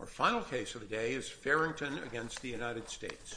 Our final case of the day is Farrington v. United States.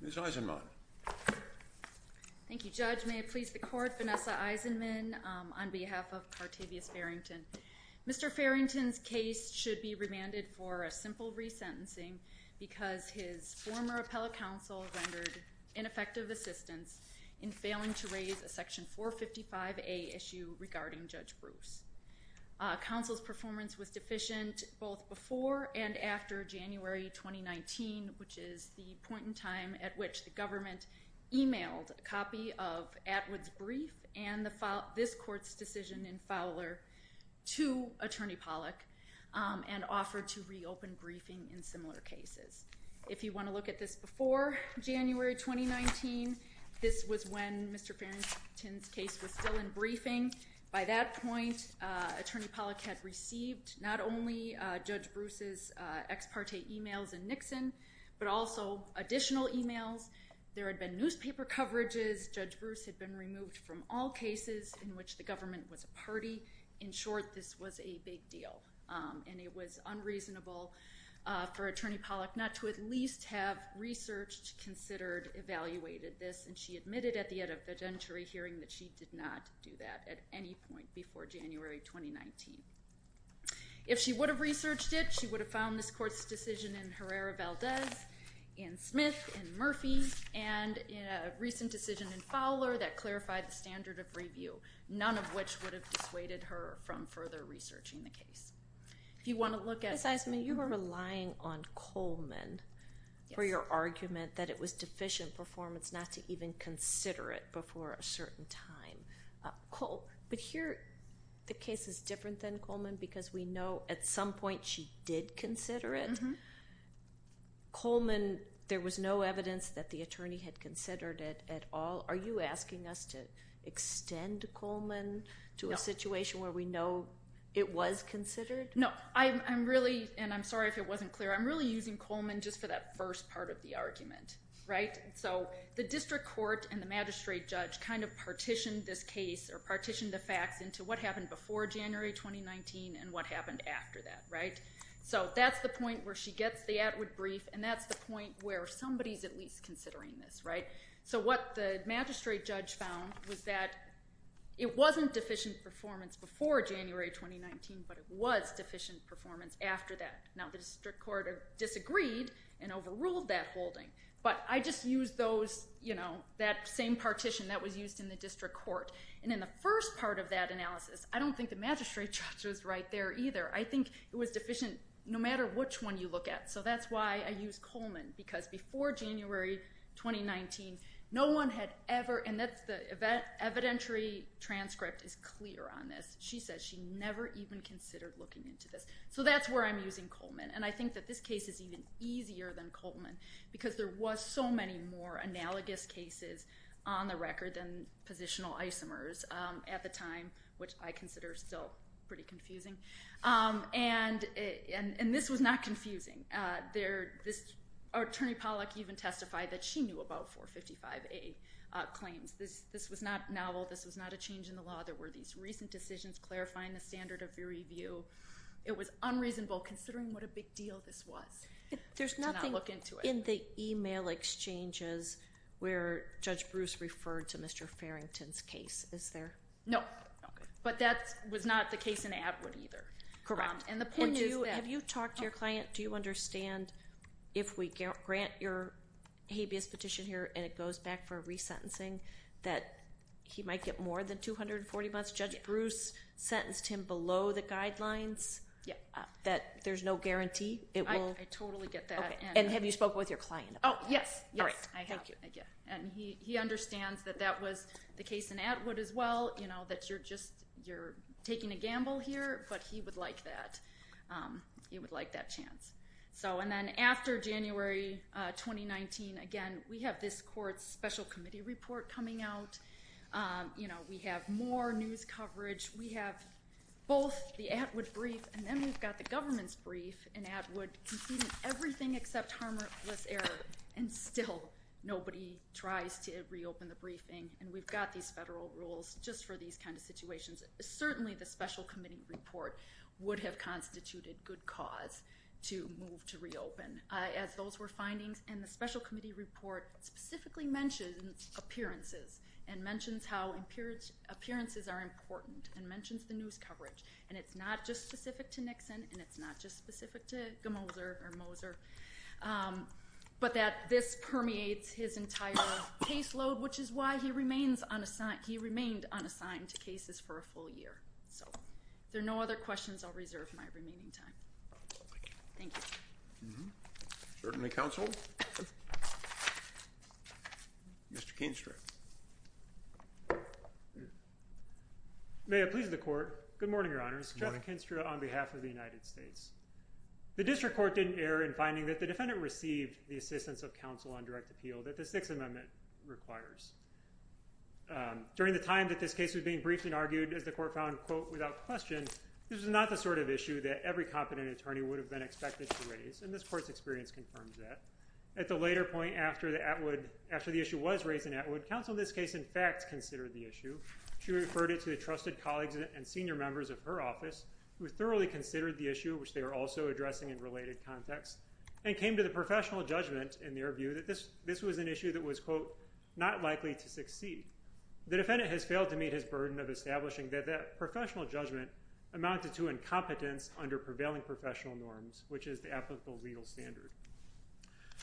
Ms. Eisenman. Thank you, Judge. May it please the Court, Vanessa Eisenman on behalf of Cartavius Farrington. Mr. Farrington's case should be remanded for a simple resentencing because his former appellate counsel rendered ineffective assistance in failing to raise a section 455A issue regarding Judge Bruce. Counsel's performance was deficient both before and after January 2019, which is the point in time at which the government emailed a copy of Atwood's brief and this court's decision in Fowler to Attorney Pollack and offered to reopen briefing in similar cases. If you want to look at this before January 2019, this was when Mr. Farrington's case was still in briefing. By that point, Attorney Pollack had received not only Judge Bruce's ex parte emails and Nixon, but also additional emails. There had been newspaper coverages. Judge Bruce had been removed from all cases in which the government was a party. In short, this was a big deal and it was unreasonable for Attorney Pollack not to at least have researched, considered, evaluated this and she admitted at the end of the judge hearing that she did not do that at any point before January 2019. If she would have researched it, she would have found this court's decision in Herrera-Valdez, in Smith, in Murphy, and in a recent decision in Fowler that clarified the standard of review, none of which would have dissuaded her from further researching the case. If you want to look at- Ms. Eisman, you were relying on Coleman for your argument that it was deficient performance not to even consider it before a certain time. But here, the case is different than Coleman because we know at some point she did consider it. Coleman, there was no evidence that the attorney had considered it at all. Are you asking us to extend Coleman to a situation where we know it was considered? No. I'm really, and I'm sorry if it wasn't clear, I'm really using Coleman just for that first part of the argument. The district court and the magistrate judge kind of partitioned this case or partitioned the facts into what happened before January 2019 and what happened after that. That's the point where she gets the Atwood brief and that's the point where somebody's at least considering this. What the magistrate judge found was that it wasn't deficient performance before January 2019, but it was deficient performance after that. Now, the district court disagreed and overruled that holding, but I just used that same partition that was used in the district court. In the first part of that analysis, I don't think the magistrate judge was right there either. I think it was deficient no matter which one you look at. That's why I use Coleman because before January 2019, no one had ever, and the evidentiary transcript is clear on this. She says she never even considered looking into this. That's where I'm using Coleman. I think that this case is even easier than Coleman because there was so many more analogous cases on the record than positional isomers at the time, which I consider still pretty confusing. This was not confusing. Attorney Pollack even testified that she knew about 455A claims. This was not novel. This was not a change in the law. There were these recent decisions clarifying the standard of review. It was unreasonable considering what a big deal this was to not look into it. There's nothing in the email exchanges where Judge Bruce referred to Mr. Farrington's case, is there? No. Okay. But that was not the case in Atwood either. And the point is that— Have you talked to your client? Do you understand if we grant your habeas petition here and it goes back for resentencing that he might get more than 240 months? Judge Bruce sentenced him below the guidelines, that there's no guarantee it will— I totally get that. Okay. And have you spoken with your client about that? Oh, yes. Yes, I have. And he understands that that was the case in Atwood as well, that you're taking a gamble here, but he would like that. He would like that chance. And then after January 2019, again, we have this court's special committee report coming out. We have more news coverage. We have both the Atwood brief and then we've got the government's brief in Atwood, including everything except harmless error, and still nobody tries to reopen the briefing. And we've got these federal rules just for these kind of situations. Certainly, the special committee report would have constituted good cause to move to reopen, as those were findings. And the special committee report specifically mentions appearances and mentions how appearances are important and mentions the news coverage. And it's not just specific to Nixon and it's not just specific to Moser, but that this permeates his entire caseload, which is why he remained unassigned to cases for a full year. So, if there are no other questions, I'll reserve my remaining time. Thank you. Certainly, counsel. Mr. Keenstra. May it please the court. Good morning, Your Honors. Jeff Keenstra on behalf of the United States. The district court didn't err in finding that the defendant received the assistance of counsel on direct appeal that the Sixth Amendment requires. During the time that this case was being briefly argued, as the court found, quote, without question, this is not the sort of issue that every competent attorney would have been expected to raise. And this court's experience confirms that. At the later point after the issue was raised in Atwood, counsel in this case, in fact, considered the issue. She referred it to the trusted colleagues and senior members of her office, who thoroughly considered the issue, which they were also addressing in related context, and came to the professional judgment in their view that this was an issue that was, quote, not likely to succeed. The defendant has failed to meet his burden of establishing that that professional judgment amounted to incompetence under prevailing professional norms, which is the applicable legal standard.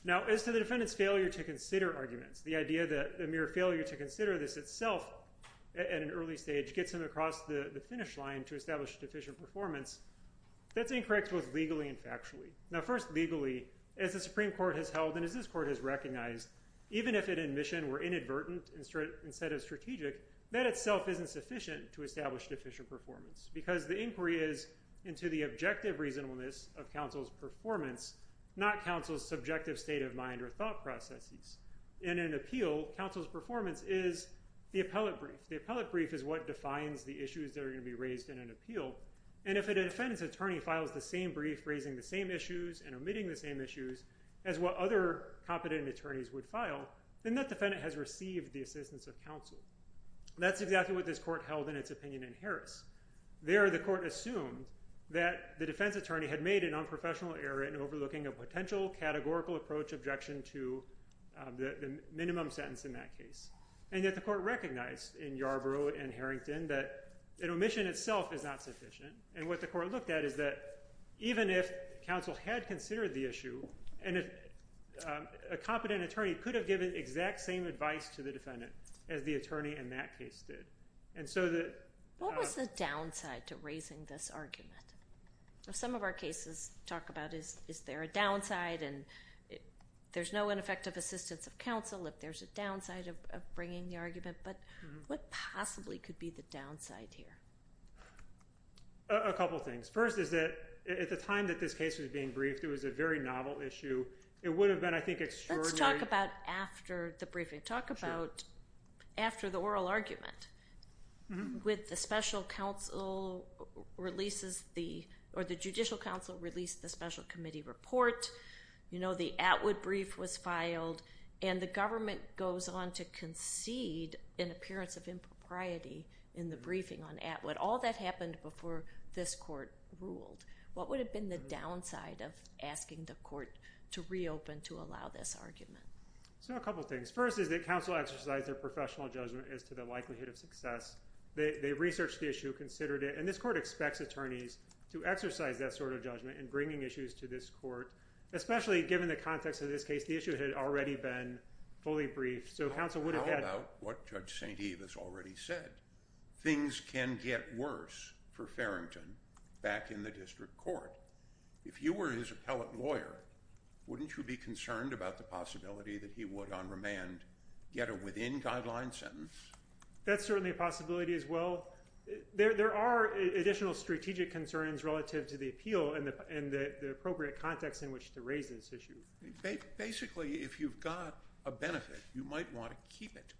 Now, as to the defendant's failure to consider arguments, the idea that a mere failure to consider this itself at an early stage gets him across the finish line to establish deficient performance, that's incorrect both legally and factually. Now, first, legally, as the Supreme Court has held and as this court has recognized, even if an admission were inadvertent instead of strategic, that itself isn't sufficient to establish deficient performance because the inquiry is into the objective reasonableness of counsel's performance, not counsel's subjective state of mind or thought processes. In an appeal, counsel's performance is the appellate brief. The appellate brief is what defines the issues that are going to be raised in an appeal. And if a defendant's attorney files the same brief raising the same issues and omitting the same issues as what other competent attorneys would file, then that defendant has received the assistance of counsel. That's exactly what this court held in its opinion in Harris. There, the court assumed that the defense attorney had made an unprofessional error in overlooking a potential categorical approach objection to the minimum sentence in that case. And yet the court recognized in Yarborough and Harrington that an omission itself is not sufficient. And what the court looked at is that even if counsel had considered the issue and if a competent attorney could have given exact same advice to the defendant as the attorney in that case did. And so the- What was the downside to raising this argument? Some of our cases talk about is there a downside and there's no ineffective assistance of counsel if there's a downside of bringing the argument. But what possibly could be the downside here? A couple of things. First is that at the time that this case was being briefed, it was a very novel issue. It would have been, I think, extraordinarily- Let's talk about after the briefing. Sure. Talk about after the oral argument with the special counsel releases the- or the judicial counsel released the special committee report. You know, the Atwood brief was filed. And the government goes on to concede an appearance of impropriety in the briefing on Atwood. But all that happened before this court ruled. What would have been the downside of asking the court to reopen to allow this argument? So a couple of things. First is that counsel exercised their professional judgment as to the likelihood of success. They researched the issue, considered it. And this court expects attorneys to exercise that sort of judgment in bringing issues to this court, especially given the context of this case. The issue had already been fully briefed. So counsel would have had- How about what Judge St. Eve has already said? Things can get worse for Farrington back in the district court. If you were his appellate lawyer, wouldn't you be concerned about the possibility that he would, on remand, get a within-guideline sentence? That's certainly a possibility as well. There are additional strategic concerns relative to the appeal and the appropriate context in which to raise this issue. Basically, if you've got a benefit, you might want to keep it.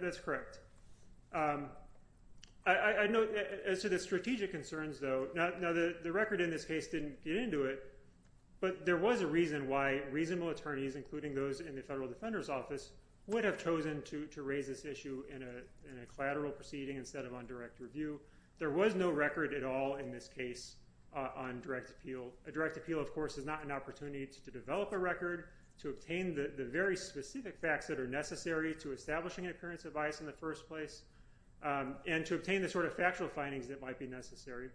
That's correct. As to the strategic concerns, though, the record in this case didn't get into it, but there was a reason why reasonable attorneys, including those in the Federal Defender's Office, would have chosen to raise this issue in a collateral proceeding instead of on direct review. There was no record at all in this case on direct appeal. A direct appeal, of course, is not an opportunity to develop a record, to obtain the very specific facts that are necessary to establishing an appearance of bias in the first place, and to obtain the sort of factual findings that might be necessary.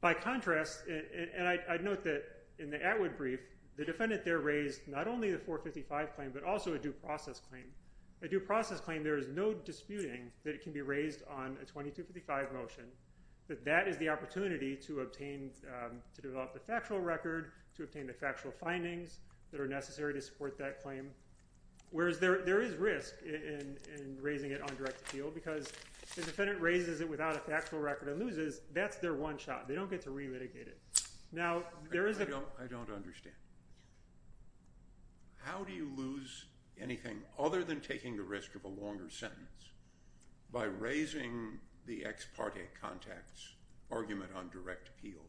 By contrast, and I'd note that in the Atwood brief, the defendant there raised not only the 455 claim but also a due process claim. A due process claim, there is no disputing that it can be raised on a 2255 motion, that that is the opportunity to develop the factual record, to obtain the factual findings that are necessary to support that claim, whereas there is risk in raising it on direct appeal because if the defendant raises it without a factual record and loses, that's their one shot. They don't get to relitigate it. I don't understand. How do you lose anything other than taking the risk of a longer sentence by raising the ex parte context argument on direct appeal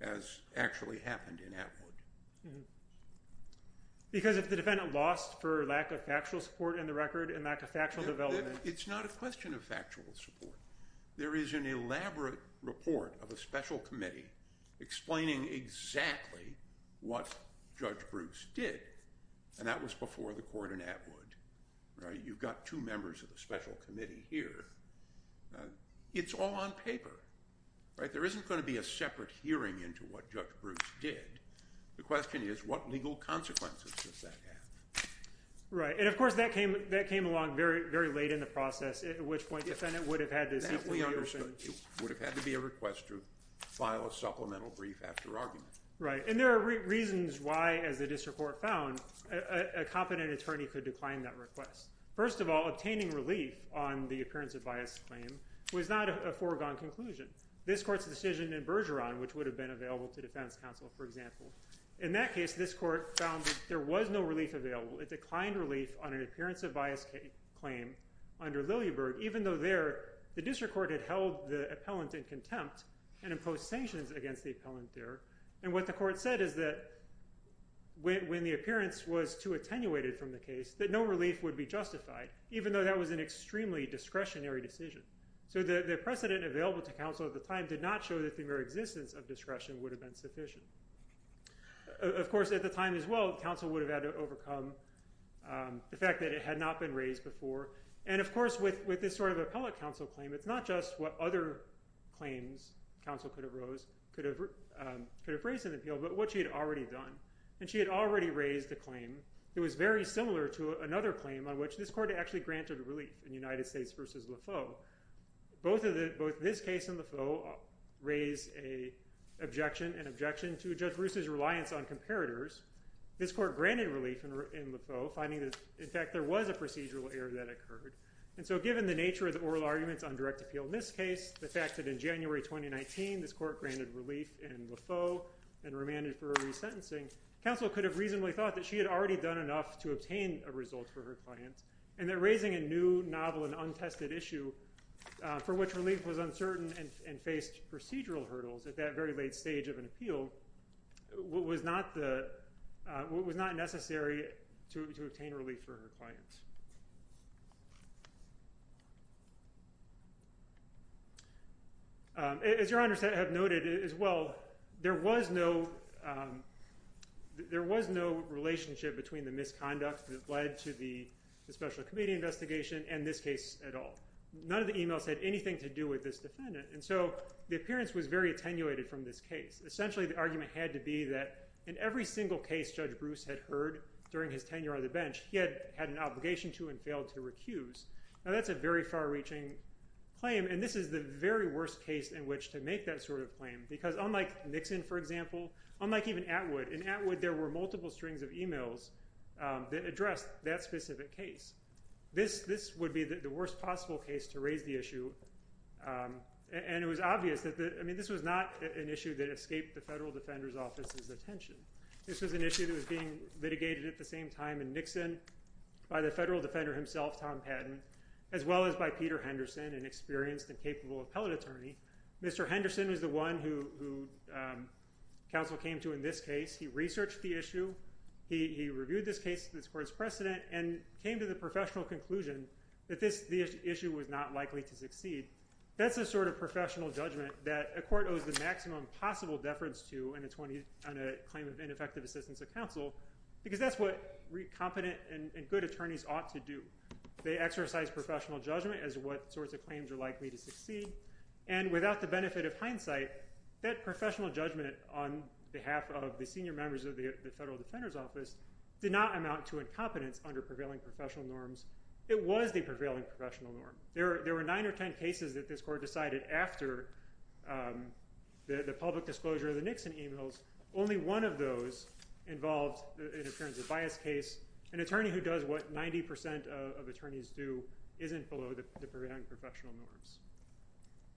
as actually happened in Atwood? Because if the defendant lost for lack of factual support in the record and lack of factual development... It's not a question of factual support. There is an elaborate report of a special committee explaining exactly what Judge Bruce did, and that was before the court in Atwood. You've got two members of the special committee here. It's all on paper. There isn't going to be a separate hearing into what Judge Bruce did. The question is what legal consequences does that have? Right, and of course that came along very late in the process, at which point the defendant would have had to simply reopen... It would have had to be a request to file a supplemental brief after argument. Right, and there are reasons why, as the district court found, a competent attorney could decline that request. First of all, obtaining relief on the appearance of bias claim was not a foregone conclusion. This court's decision in Bergeron, which would have been available to defense counsel, for example. In that case, this court found that there was no relief available. It declined relief on an appearance of bias claim under Lillieberg, even though there the district court had held the appellant in contempt and imposed sanctions against the appellant there. And what the court said is that when the appearance was too attenuated from the case, that no relief would be justified, even though that was an extremely discretionary decision. So the precedent available to counsel at the time did not show that the mere existence of discretion would have been sufficient. Of course, at the time as well, counsel would have had to overcome the fact that it had not been raised before. And of course, with this sort of appellate counsel claim, it's not just what other claims counsel could have raised in the appeal, but what she had already done. And she had already raised a claim that was very similar to another claim on which this court had actually granted relief in United States v. Lefeu. Both this case and Lefeu raised an objection to Judge Roos's reliance on comparators. This court granted relief in Lefeu, finding that, in fact, there was a procedural error that occurred. And so given the nature of the oral arguments on direct appeal in this case, the fact that in January 2019 this court granted relief in Lefeu and remanded for resentencing, counsel could have reasonably thought that she had already done enough to obtain a result for her client and that raising a new, novel, and untested issue for which relief was uncertain and faced procedural hurdles at that very late stage of an appeal was not necessary to obtain relief for her client. As Your Honors have noted as well, there was no relationship between the misconduct that led to the special committee investigation and this case at all. None of the emails had anything to do with this defendant. And so the appearance was very attenuated from this case. Essentially, the argument had to be that in every single case Judge Roos had heard during his tenure on the bench, he had an obligation to and failed to recuse. Now that's a very far-reaching claim, and this is the very worst case in which to make that sort of claim because unlike Nixon, for example, unlike even Atwood, in Atwood there were multiple strings of emails that addressed that specific case. This would be the worst possible case to raise the issue. And it was obvious that this was not an issue that escaped the Federal Defender's Office's attention. This was an issue that was being litigated at the same time in Nixon by the Federal Defender himself, Tom Patton, as well as by Peter Henderson, an experienced and capable appellate attorney. Mr. Henderson is the one who counsel came to in this case. He researched the issue. He reviewed this case to the court's precedent and came to the professional conclusion that this issue was not likely to succeed. That's the sort of professional judgment that a court owes the maximum possible deference to on a claim of ineffective assistance of counsel because that's what competent and good attorneys ought to do. They exercise professional judgment as to what sorts of claims are likely to succeed. And without the benefit of hindsight, that professional judgment on behalf of the senior members of the Federal Defender's Office did not amount to incompetence under prevailing professional norms. It was the prevailing professional norm. There were 9 or 10 cases that this court decided after the public disclosure of the Nixon emails. Only one of those involved an appearance of bias case. An attorney who does what 90% of attorneys do isn't below the prevailing professional norms.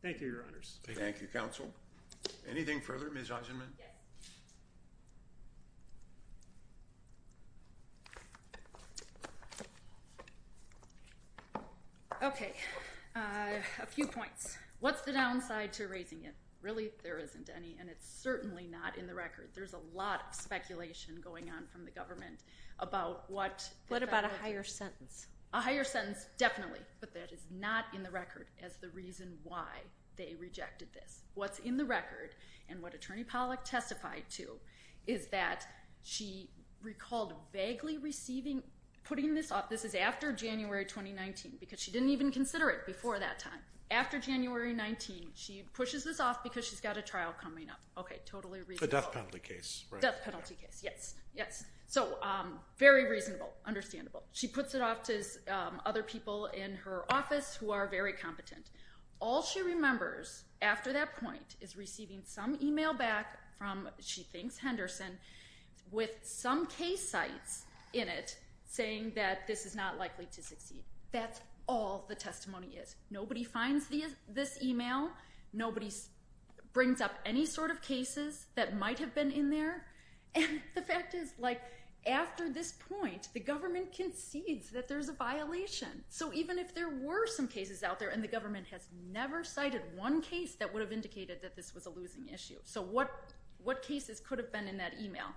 Thank you, Your Honors. Thank you, counsel. Anything further, Ms. Eisenman? Yes. Okay. A few points. What's the downside to erasing it? Really, there isn't any, and it's certainly not in the record. There's a lot of speculation going on from the government about what the Federal Defender did. What about a higher sentence? A higher sentence, definitely, but that is not in the record as the reason why they rejected this. What's in the record and what Attorney Pollack testified to is that she recalled vaguely putting this off. This is after January 2019 because she didn't even consider it before that time. After January 19, she pushes this off because she's got a trial coming up. Okay, totally reasonable. A death penalty case, right? Death penalty case, yes, yes. So very reasonable, understandable. She puts it off to other people in her office who are very competent. All she remembers after that point is receiving some email back from she thinks Henderson with some case sites in it saying that this is not likely to succeed. That's all the testimony is. Nobody finds this email. Nobody brings up any sort of cases that might have been in there. And the fact is, like, after this point, the government concedes that there's a violation. So even if there were some cases out there and the government has never cited one case that would have indicated that this was a losing issue. So what cases could have been in that email?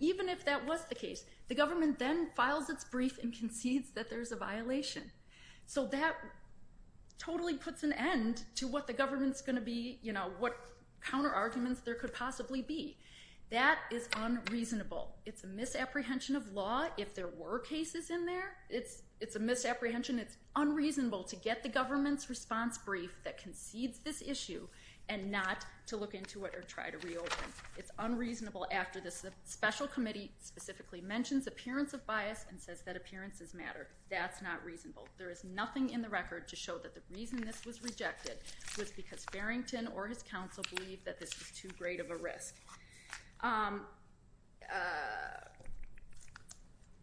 Even if that was the case, the government then files its brief and concedes that there's a violation. So that totally puts an end to what the government's going to be, you know, what counterarguments there could possibly be. That is unreasonable. It's a misapprehension of law. If there were cases in there, it's a misapprehension. It's unreasonable to get the government's response brief that concedes this issue and not to look into it or try to reopen. It's unreasonable after this special committee specifically mentions appearance of bias and says that appearances matter. That's not reasonable. There is nothing in the record to show that the reason this was rejected was because Farrington or his counsel believed that this was too great of a risk.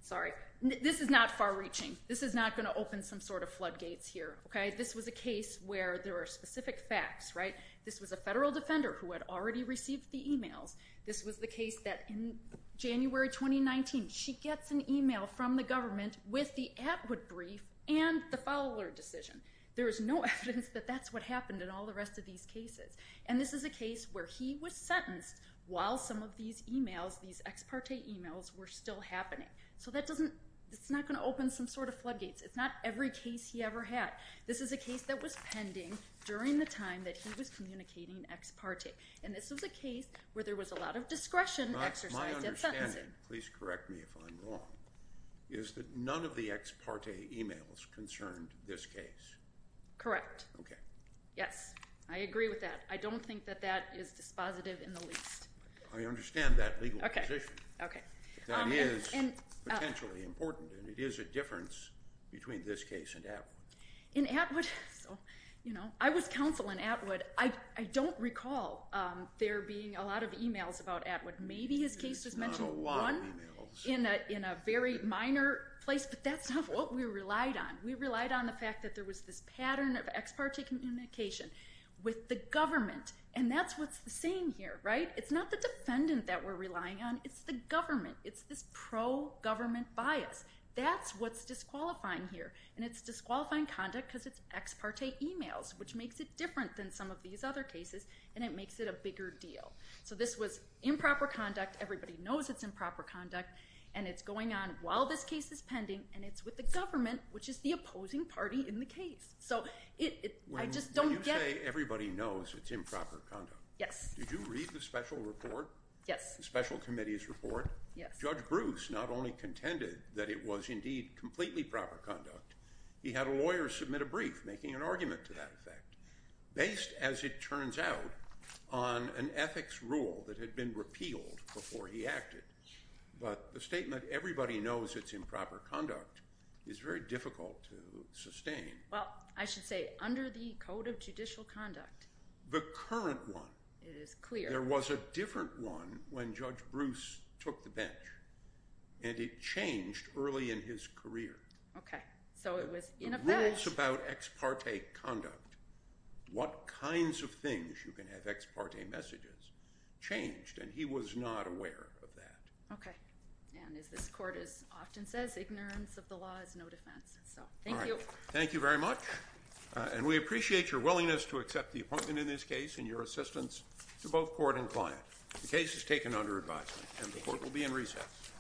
Sorry. This is not far-reaching. This is not going to open some sort of floodgates here, okay? This was a case where there are specific facts, right? This was a federal defender who had already received the emails. This was the case that in January 2019, she gets an email from the government with the Atwood brief and the follower decision. There is no evidence that that's what happened in all the rest of these cases. And this is a case where he was sentenced while some of these emails, these ex parte emails were still happening. So that doesn't, it's not going to open some sort of floodgates. It's not every case he ever had. This is a case that was pending during the time that he was communicating ex parte. And this was a case where there was a lot of discretion exercised at sentencing. My understanding, please correct me if I'm wrong, is that none of the ex parte emails concerned this case. Correct. Okay. Yes. I agree with that. I don't think that that is dispositive in the least. I understand that legal position. That is potentially important, and it is a difference between this case and Atwood. In Atwood, you know, I was counsel in Atwood. I don't recall there being a lot of emails about Atwood. Maybe his case was mentioned one in a very minor place, but that's not what we relied on. We relied on the fact that there was this pattern of ex parte communication with the government, and that's what's the saying here, right? It's not the defendant that we're relying on. It's the government. It's this pro-government bias. That's what's disqualifying here, and it's disqualifying conduct because it's ex parte emails, which makes it different than some of these other cases, and it makes it a bigger deal. So this was improper conduct. Everybody knows it's improper conduct, and it's going on while this case is pending, and it's with the government, which is the opposing party in the case. So I just don't get it. When you say everybody knows it's improper conduct, did you read the special report? Yes. The special committee's report? Yes. Judge Bruce not only contended that it was indeed completely proper conduct, he had a lawyer submit a brief making an argument to that effect, based, as it turns out, on an ethics rule that had been repealed before he acted. But the statement everybody knows it's improper conduct is very difficult to sustain. Well, I should say under the Code of Judicial Conduct. The current one. It is clear. There was a different one when Judge Bruce took the bench, and it changed early in his career. Okay. So it was in effect. Rules about ex parte conduct, what kinds of things you can have ex parte messages, changed, and he was not aware of that. Okay. And as this court often says, ignorance of the law is no defense. So thank you. All right. Thank you very much. And we appreciate your willingness to accept the appointment in this case and your assistance to both court and client. The case is taken under advisement, and the court will be in recess.